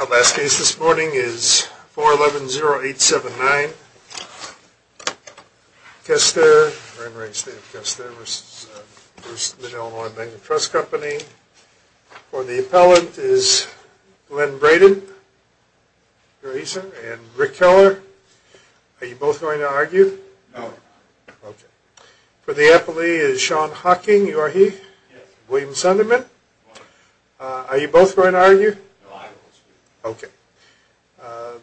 Alaska is this morning is four eleven zero eight seven nine Kester Trust company or the appellant is when Braden reason and Rick Keller Are you both going to argue? No? For the appellee is Sean Hawking you are he William Sunderman Are you both going to argue? Okay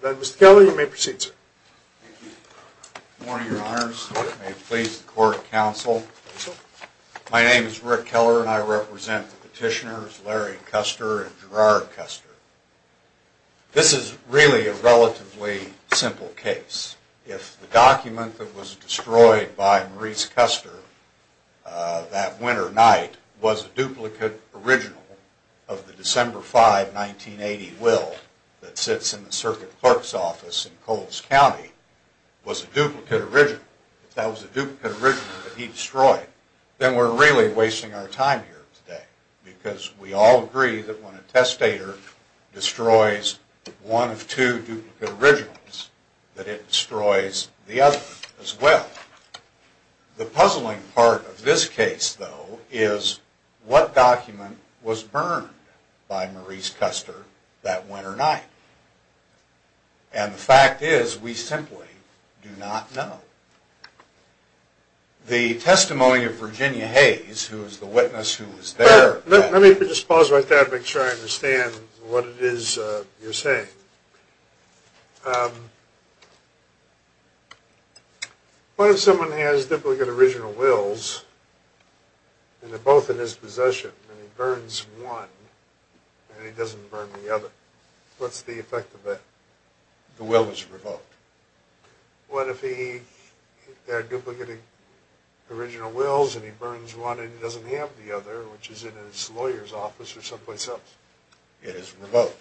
That was Kelly you may proceed Please court counsel My name is Rick Keller, and I represent the petitioners Larry Koester and Gerard Koester This is really a relatively simple case if the document that was destroyed by Maurice Koester That winter night was a duplicate original of the December 5 1980 will that sits in the circuit clerk's office in Coles County Was a duplicate original that was a duplicate original that he destroyed then we're really wasting our time here today Because we all agree that when a testator destroys One of two duplicate originals that it destroys the other as well The puzzling part of this case though is What document was burned by Maurice Koester that winter night? and The fact is we simply do not know The testimony of Virginia Hayes who is the witness who was there let me just pause right that make sure I understand What it is you're saying Um What if someone has duplicate original wills And they're both in his possession, and he burns one And he doesn't burn the other what's the effect of it? The will is revoked what if he had duplicating Original wills and he burns one and he doesn't have the other which is in his lawyer's office or someplace else it is remote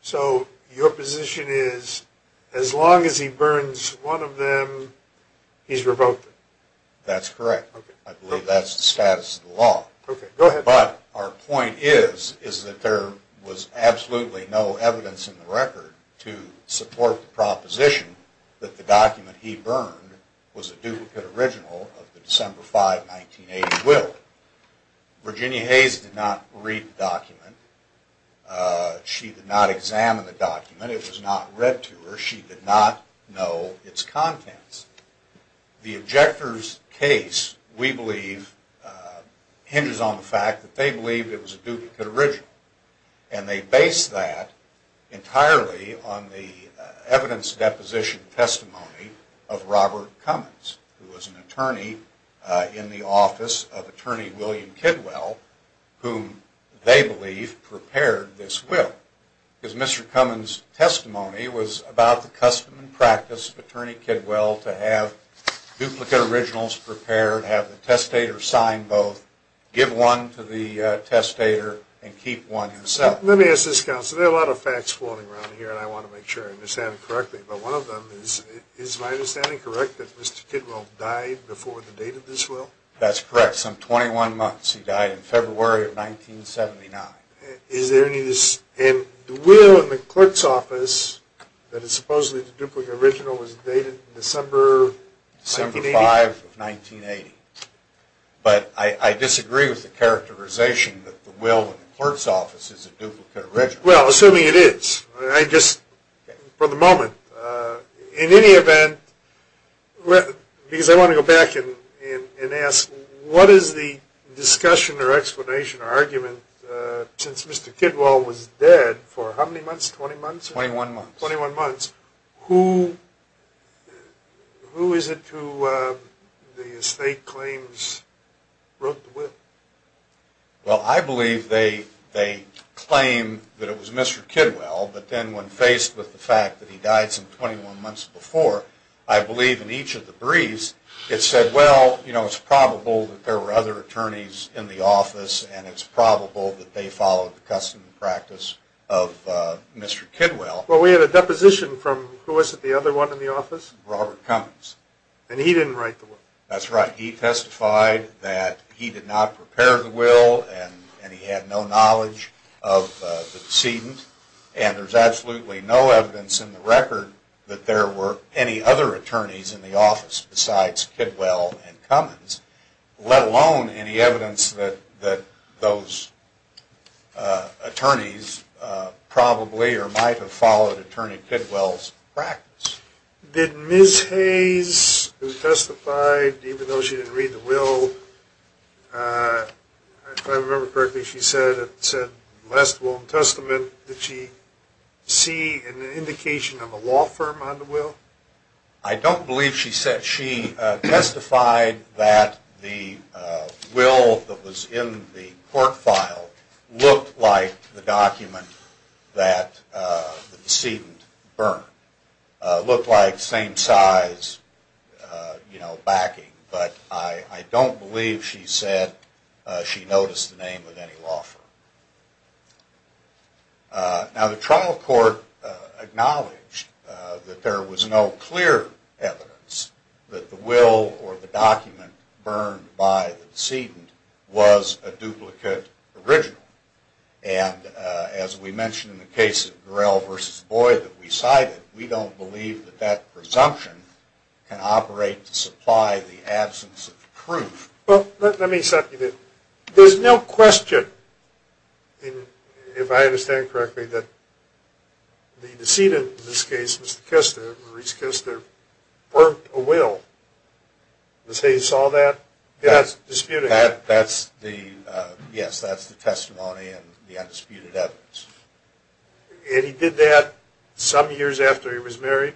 So your position is as long as he burns one of them He's revoked That's correct. I believe that's the status of the law But our point is is that there was absolutely no evidence in the record to support the proposition That the document he burned was a duplicate original of the December 5 1980 will Virginia Hayes did not read document She did not examine the document. It was not read to her. She did not know its contents the objectors case we believe Hinges on the fact that they believed it was a duplicate original and they based that entirely on the evidence deposition Testimony of Robert Cummins who was an attorney in the office of attorney William Kidwell Whom they believe prepared this will because mr. Cummins testimony was about the custom and practice of attorney Kidwell to have duplicate originals prepared have the testator sign both give one to the Testator and keep one himself. Let me ask this counselor a lot of facts floating around here And I want to make sure I'm just having correctly But one of them is is my understanding correct that mr. Kidwell died before the date of this will that's correct some 21 months. He died in February of 1979 is there any this and the will in the clerk's office That is supposedly the duplicate original was dated December December 5 of 1980 But I disagree with the characterization that the will of the clerk's office is a duplicate rich Well assuming it is I just for the moment in any event Well because I want to go back in and ask what is the discussion or explanation or argument? Since mr. Kidwell was dead for how many months 20 months 21 months 21 months who? Who is it to the estate claims Well I believe they they claim that it was mr. Kidwell, but then when faced with the fact that he died some 21 months before I believe in each of the briefs it said well You know it's probable that there were other attorneys in the office, and it's probable that they followed the custom and practice of Mr.. Kidwell well we had a deposition from who is it the other one in the office Robert Cummings And he didn't write the one that's right he testified that he did not prepare the will and and he had no knowledge of Seedent and there's absolutely no evidence in the record that there were any other attorneys in the office besides Kidwell and Cummins Let alone any evidence that that those Attorneys Probably or might have followed attorney Kidwell's practice did miss Hayes Testified even though she didn't read the will If I remember correctly she said it said last will testament that she See an indication of a law firm on the will I don't believe she said she testified that the Will that was in the court file looked like the document that Seedent burn Looked like same size You know backing, but I I don't believe she said she noticed the name of any law firm Now the trial court Acknowledged that there was no clear evidence that the will or the document burned by the Seedent was a duplicate original and As we mentioned in the case of Durell versus Boyd that we cited. We don't believe that that presumption Operate to supply the absence of proof. Well, let me set you there. There's no question If I understand correctly that The Seedent in this case mr. Kester Maurice Kester burnt a will Let's say you saw that that's disputed. That's the yes, that's the testimony and the undisputed evidence And he did that some years after he was married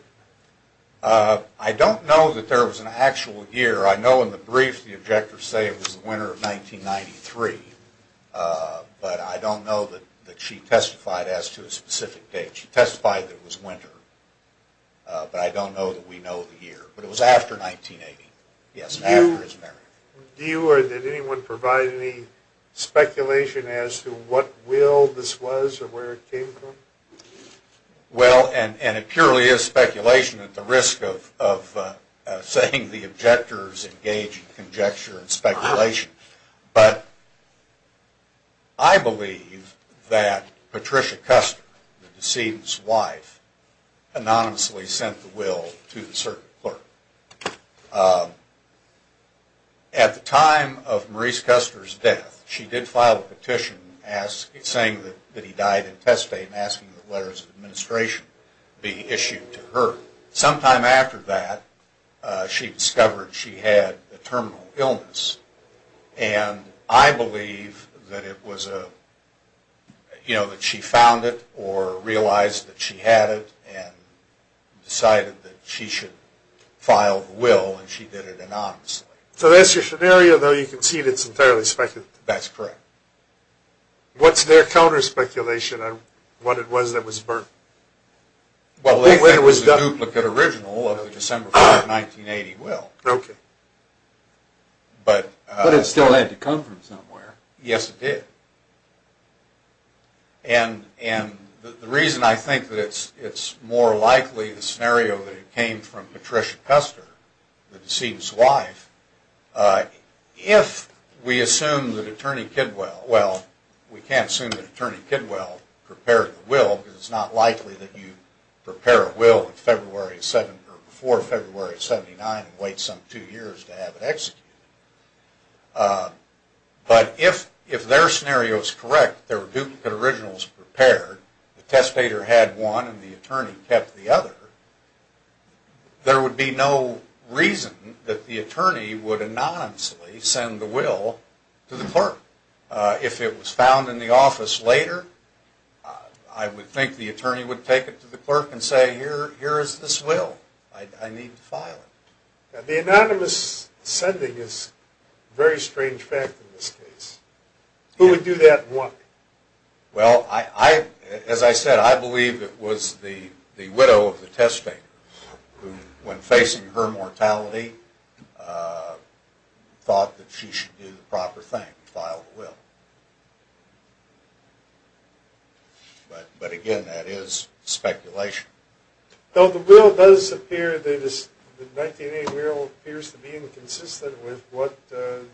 I don't know that there was an actual year. I know in the brief the objectors say it was the winter of 1993 But I don't know that that she testified as to a specific date. She testified that was winter But I don't know that we know the year, but it was after 1980. Yes Do you or did anyone provide any? Speculation as to what will this was or where it came from Well and and it purely is speculation at the risk of saying the objectors engage in conjecture and speculation, but I Believe that Patricia Custer the Seedent's wife Anonymously sent the will to the certain clerk At the time of Maurice Kester's death She did file a petition as it's saying that that he died in test fame asking the letters of administration Be issued to her sometime after that she discovered she had a terminal illness and I believe that it was a you know that she found it or realized that she had it and Decided that she should file the will and she did it anonymously so that's your scenario though you can see that's entirely speculative That's correct What's their counter-speculation on what it was that was burnt? Well, it was done look at original of December 1980 well, okay But but it still had to come from somewhere. Yes it did and And the reason I think that it's it's more likely the scenario that it came from Patricia Custer the deceitous wife If we assume that attorney Kidwell well We can't assume that attorney Kidwell prepared the will because it's not likely that you Prepare a will in February 7 or before February 79 and wait some two years to have it executed But if if their scenario is correct there were duplicate originals prepared the testator had one and the attorney kept the other There would be no reason that the attorney would anonymously send the will to the clerk if it was found in the office later I Would think the attorney would take it to the clerk and say here. Here is this will I need to file it the anonymous? Sending is very strange fact in this case Who would do that one? Well III as I said, I believe it was the the widow of the test thing when facing her mortality Thought that she should do the proper thing filed well But but again that is speculation though the will does appear that is the 19-year-old appears to be inconsistent with what the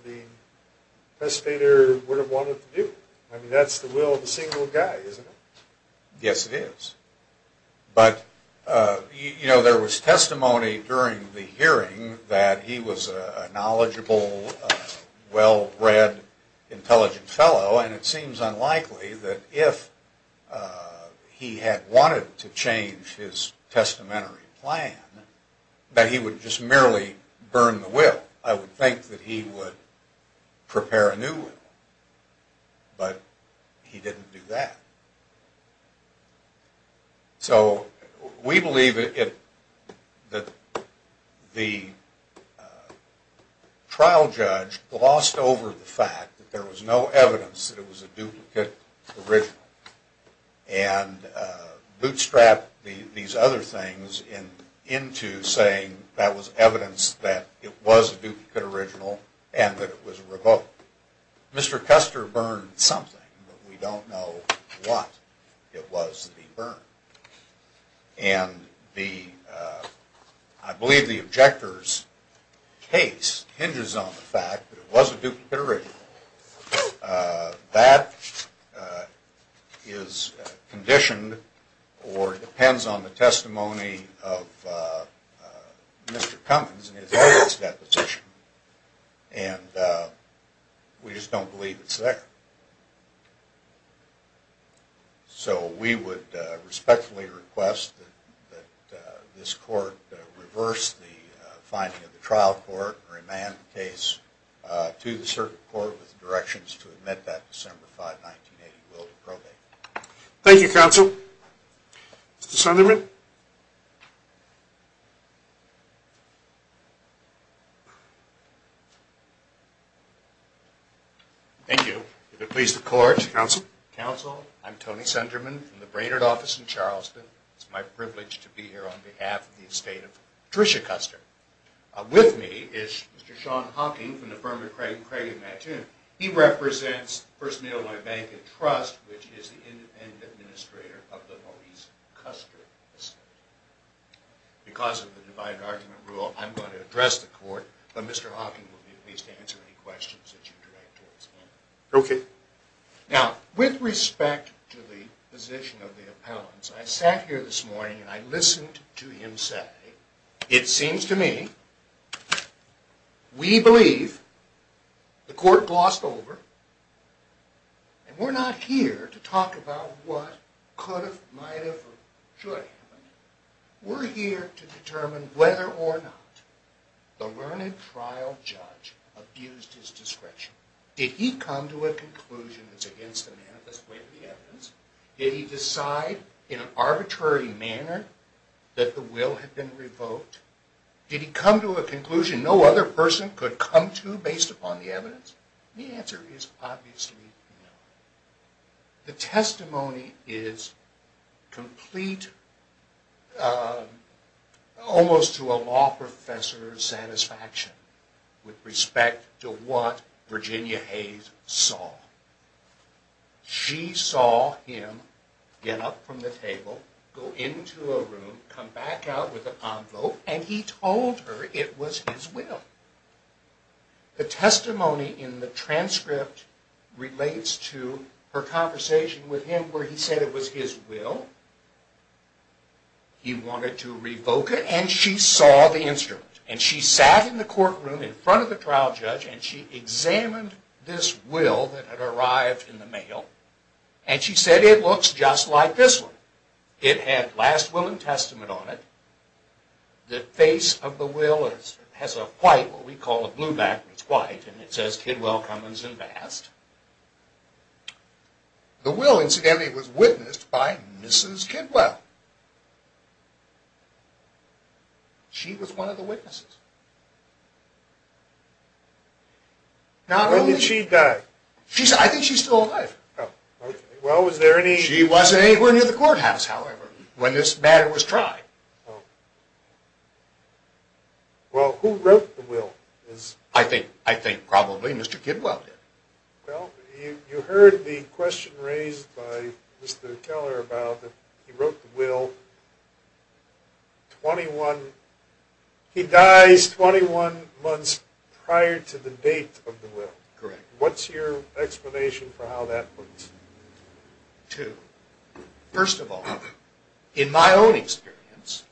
Establisher would have wanted to do I mean that's the will of a single guy isn't it yes it is but You know there was testimony during the hearing that he was a knowledgeable well read intelligent fellow and it seems unlikely that if He had wanted to change his testamentary plan That he would just merely burn the will I would think that he would prepare a new But he didn't do that So we believe it that the Trial judge glossed over the fact that there was no evidence that it was a duplicate original and Bootstrap these other things in into saying that was evidence that it was a duplicate original And that it was a revoke Mr.. Custer burned something, but we don't know what it was the burn and the I believe the objectors Case hinges on the fact that it was a duplicate original that Is conditioned or depends on the testimony of Mr.. Cummins And we just don't believe it's there So we would respectfully request This court reverse the finding of the trial court remand case To the circuit court with directions to admit that December 5 Thank You counsel Sunderman Thank You the police the court counsel counsel I'm Tony Sunderman from the Brainerd office in Charleston. It's my privilege to be here on behalf of the estate of Tricia Custer With me is mr.. Sean Hawking from the firm of Craig Craig imagine. He represents first mail my bank and trust Is the independent administrator of the Maurice Custer? Because of the divided argument rule I'm going to address the court, but mr.. Hawking will be at least answer any questions Okay now with respect to the position of the appellants I sat here this morning, and I listened to him say it seems to me We believe the court glossed over And we're not here to talk about what could have might have We're here to determine whether or not the learned trial judge Abused his discretion did he come to a conclusion that's against the man at this point the evidence Did he decide in an arbitrary manner that the will had been revoked? Did he come to a conclusion no other person could come to based upon the evidence the answer is obviously The testimony is complete Almost to a law professor's satisfaction with respect to what Virginia Hayes saw She saw him Get up from the table go into a room come back out with a pomp though, and he told her it was his will The testimony in the transcript relates to her conversation with him where he said it was his will He wanted to revoke it and she saw the instrument and she sat in the courtroom in front of the trial judge And she examined this will that had arrived in the mail And she said it looks just like this one it had last will and testament on it The face of the will is has a white what we call a blue back. It's white and it says kid well Cummins and vast The will incidentally was witnessed by mrs. Kidwell She was one of the witnesses Not only did she die she's I think she's still alive Well, was there any she wasn't anywhere near the courthouse however when this matter was tried Well who wrote the will is I think I think probably mr. Kidwell did You heard the question raised by mr. Keller about that. He wrote the will 21 He dies 21 months prior to the date of the will correct. What's your explanation for how that works? to first of all in my own experience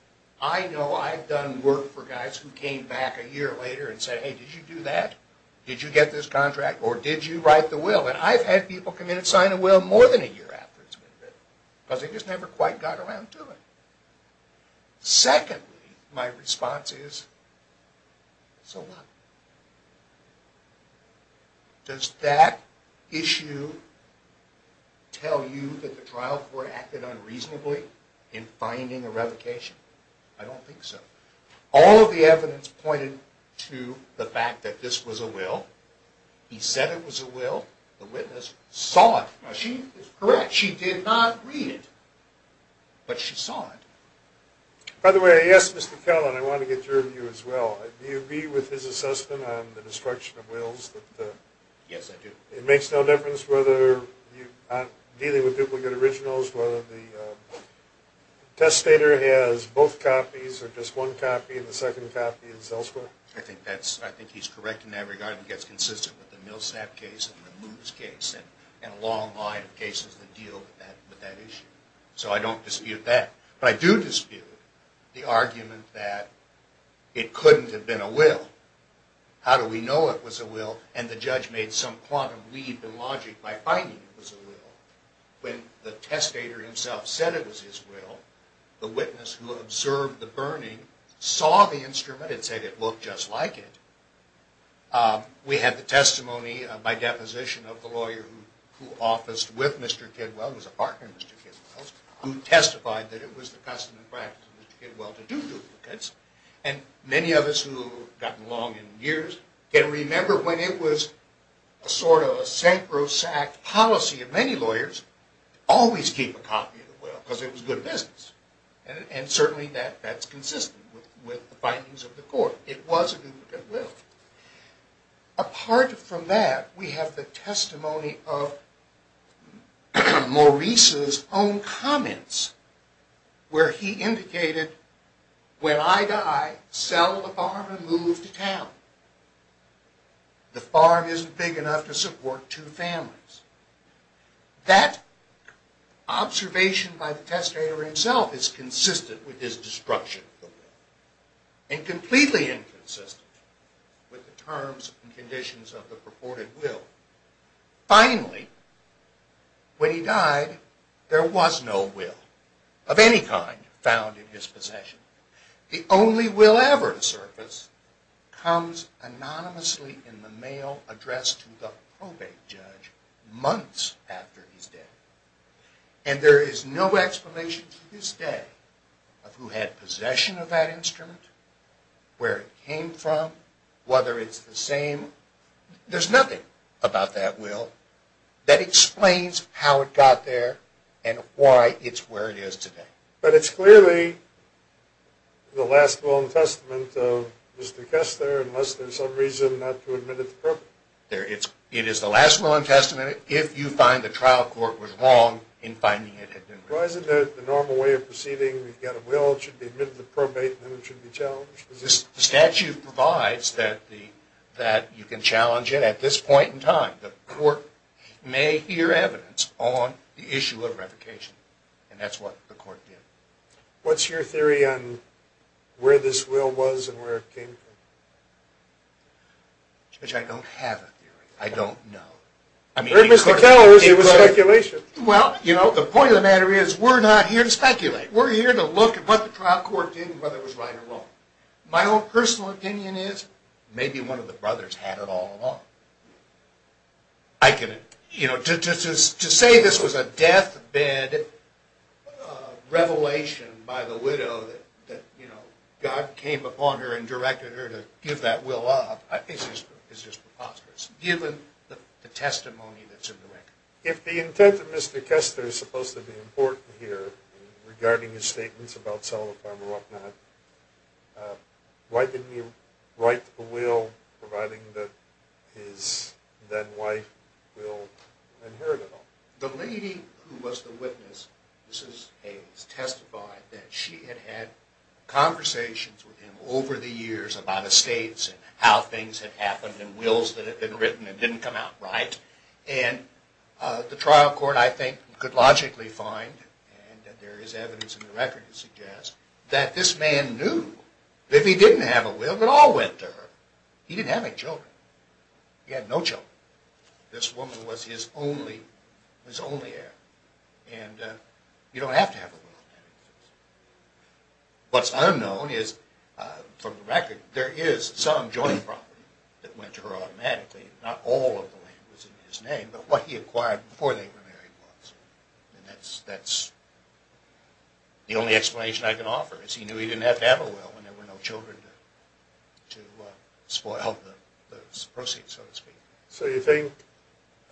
I know I've done work for guys who came back a year later and said hey Did you do that? Did you get this contract or did you write the will and I've had people come in and sign a will more than a year? Because they just never quite got around to it Secondly my response is so what? Does that issue Tell you that the trial for acted unreasonably in finding a revocation I don't think so all of the evidence pointed to the fact that this was a will He said it was a will the witness saw it she is correct. She did not read it But she saw it By the way, yes, mr. Kelly. I want to get your view as well. Do you agree with his assessment on the destruction of wills? Yes, I do. It makes no difference whether dealing with duplicate originals whether the Test stater has both copies or just one copy of the second copy is elsewhere I think that's I think he's correct in that regard and gets consistent with the Millsap case and the moves case and a long line of cases that deal with that with that issue, so I don't dispute that but I do dispute the argument that It couldn't have been a will How do we know it was a will and the judge made some quantum leap in logic by fighting? When the testator himself said it was his will the witness who observed the burning Saw the instrument and said it looked just like it We had the testimony by deposition of the lawyer who who officed with mr. Kidwell was a partner mr. Kidwell who testified that it was the custom and practice and many of us who got along in years can remember when it was a Sort of a sacrosanct policy of many lawyers Always keep a copy of the will because it was good business and certainly that that's consistent with the findings of the court It was a duplicate will apart from that we have the testimony of Maurice's own comments where he indicated when I die sell the farm and move to town The farm isn't big enough to support two families That Observation by the testator himself is consistent with his destruction and completely inconsistent with the terms and conditions of the purported will finally When he died there was no will of any kind found in his possession the only will ever surface comes Anonymously in the mail addressed to the probate judge months after his death and There is no explanation to this day Who had possession of that instrument? Where it came from whether it's the same There's nothing about that will That explains how it got there, and why it's where it is today, but it's clearly The last will and testament of mr. Kester unless there's some reason not to admit it there It's it is the last will and testament if you find the trial court was wrong in finding it Why is it the normal way of proceeding we've got a will it should be admitted the probate and it should be challenged this Statute provides that the that you can challenge it at this point in time the court May hear evidence on the issue of revocation and that's what the court did What's your theory on? Where this will was and where it came from? Which I don't have I don't know I mean Well you know the point of the matter is we're not here to speculate We're here to look at what the trial court did whether it was right or wrong My own personal opinion is maybe one of the brothers had it all along I Can you know to say this was a death bed? Revelation by the widow that you know God came upon her and directed her to give that will up I think it's just it's just Given the testimony that's in the record if the intent of mr. Kester is supposed to be important here regarding his statements about Selma farmer whatnot Why didn't you write the will providing that is then why? And her go the lady who was the witness this is a testify that she had had conversations with him over the years about estates and how things had happened and wills that had been written and didn't come out right and The trial court I think could logically find There is evidence in the record to suggest that this man knew if he didn't have a will that all went to her He didn't have any children Yeah, no joke this woman was his only his only heir and you don't have to have What's unknown is From the record there is some joint property that went to her automatically not all of the way was in his name But what he acquired before they were married was and that's that's The only explanation I can offer is he knew he didn't have to have a will when there were no children to spoil Proceeds so to speak so you think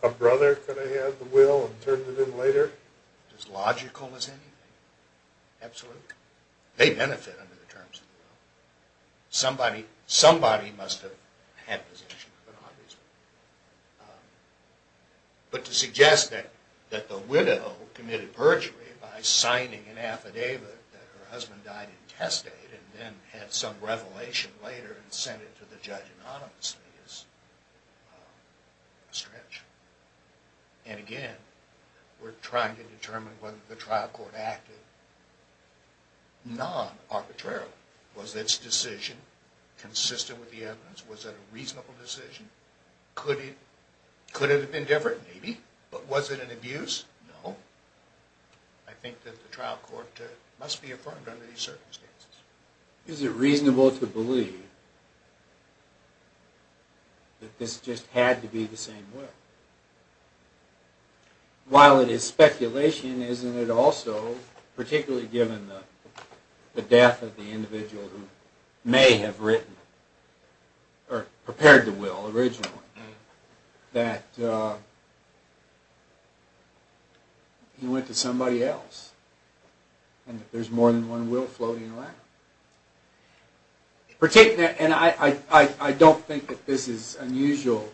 a brother could I have the will and turn it in later as logical as anything Absolutely, they benefit under the terms Somebody somebody must have had position But to suggest that that the widow committed perjury by signing an affidavit Husband died in testate and then had some revelation later and sent it to the judge anonymously is Stretch and again, we're trying to determine whether the trial court acted Non arbitrarily was this decision Consistent with the evidence was that a reasonable decision could it could have been different maybe but was it an abuse no I? Circumstances is it reasonable to believe That this just had to be the same way While it is speculation isn't it also particularly given the death of the individual who may have written or prepared the will originally that He Went to somebody else and if there's more than one will floating around Particularly and I I don't think that this is unusual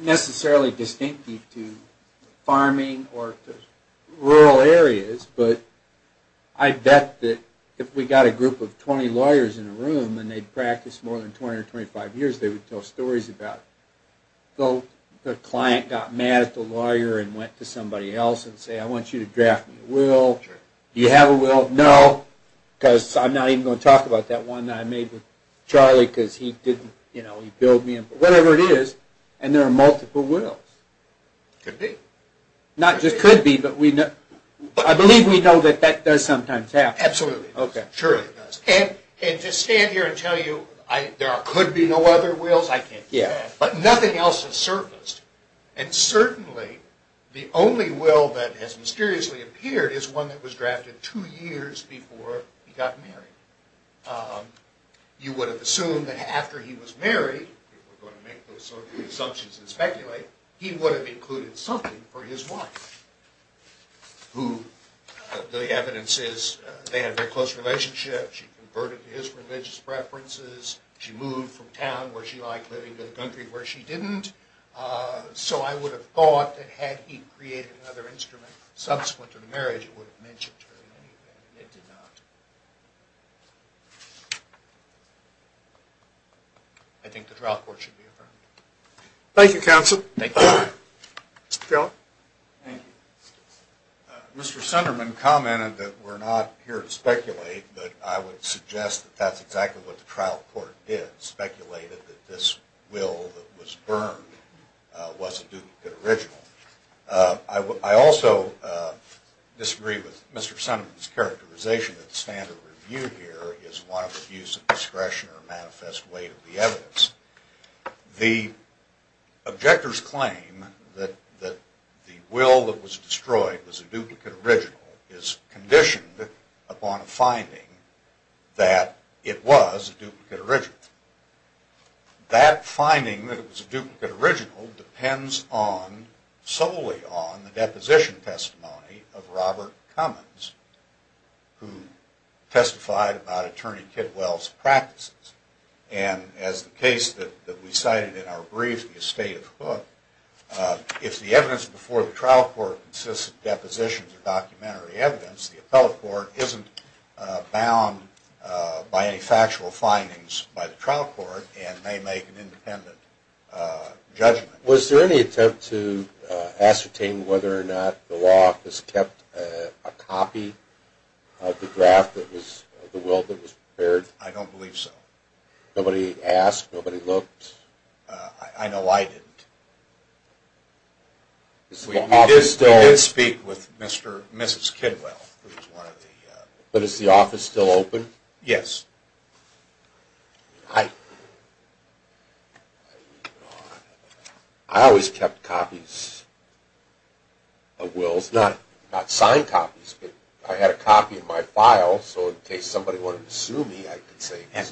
Necessarily distinctive to farming or rural areas, but I Bet that if we got a group of 20 lawyers in a room and they'd practice more than 20 or 25 years They would tell stories about Though the client got mad at the lawyer and went to somebody else and say I want you to draft a will You have a will no Because I'm not even going to talk about that one. I made with Charlie because he didn't you know he billed me Whatever it is and there are multiple will be Not just could be but we know I believe we know that that does sometimes have absolutely okay sure And and just stand here and tell you I there could be no other wheels I can't yeah nothing else has surfaced and Certainly the only will that has mysteriously appeared is one that was drafted two years before he got married You would have assumed that after he was married Assumptions and speculate he would have included something for his wife who The evidence is they had a close relationship. She converted his religious preferences She moved from town where she liked living to the country where she didn't So I would have thought that had he created another instrument subsequent to the marriage I think the trial court should be affirmed. Thank you counsel. Thank you Mr.. Sunderman commented that we're not here to speculate, but I would suggest that that's exactly what the trial court is Speculated that this will that was burned Wasn't do good original. I would I also Disagree with mr. Sunderman's characterization that standard review here is one of the views of discretion or manifest way to the evidence the objectors claim that that Will that was destroyed was a duplicate original is conditioned upon a finding that It was a duplicate original That finding that it was a duplicate original depends on solely on the deposition testimony of Robert Cummins who testified about attorney kidwell's practices and As the case that we cited in our brief the estate of hook If the evidence before the trial court consists of depositions of documentary evidence the appellate court isn't bound By any factual findings by the trial court and may make an independent Judgment was there any attempt to? Ascertain whether or not the law has kept a copy The draft that was the will that was prepared. I don't believe so nobody asked nobody looked I know I didn't This is still speak with mr.. Mrs.. Kidwell, but it's the office still open yes I Always kept copies Of wills not not signed copies, but I had a copy of my file So in case somebody wanted to sue me I could say and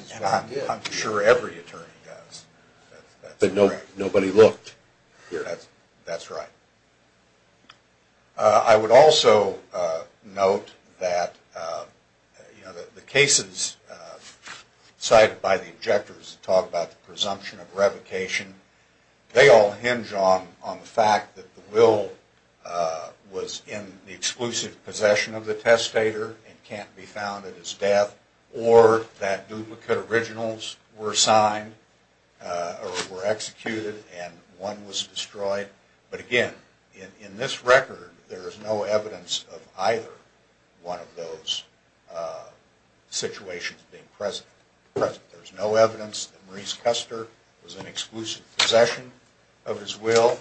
I'm sure every attorney does But no nobody looked here. That's that's right I would also note that You know the cases Cited by the objectors to talk about the presumption of revocation They all hinge on on the fact that the will Was in the exclusive possession of the testator and can't be found at his death or that duplicate originals were signed Or were executed and one was destroyed, but again in this record. There is no evidence of either one of those Situations being present, but there's no evidence that Maurice Custer was an exclusive possession of his will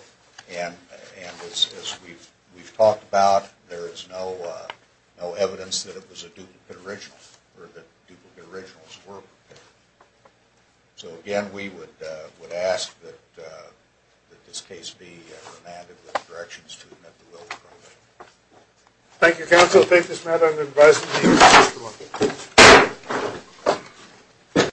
and And as we've we've talked about there is no No evidence that it was a duplicate original or the duplicate originals were So again, we would would ask that that this case be Thank You counsel take this matter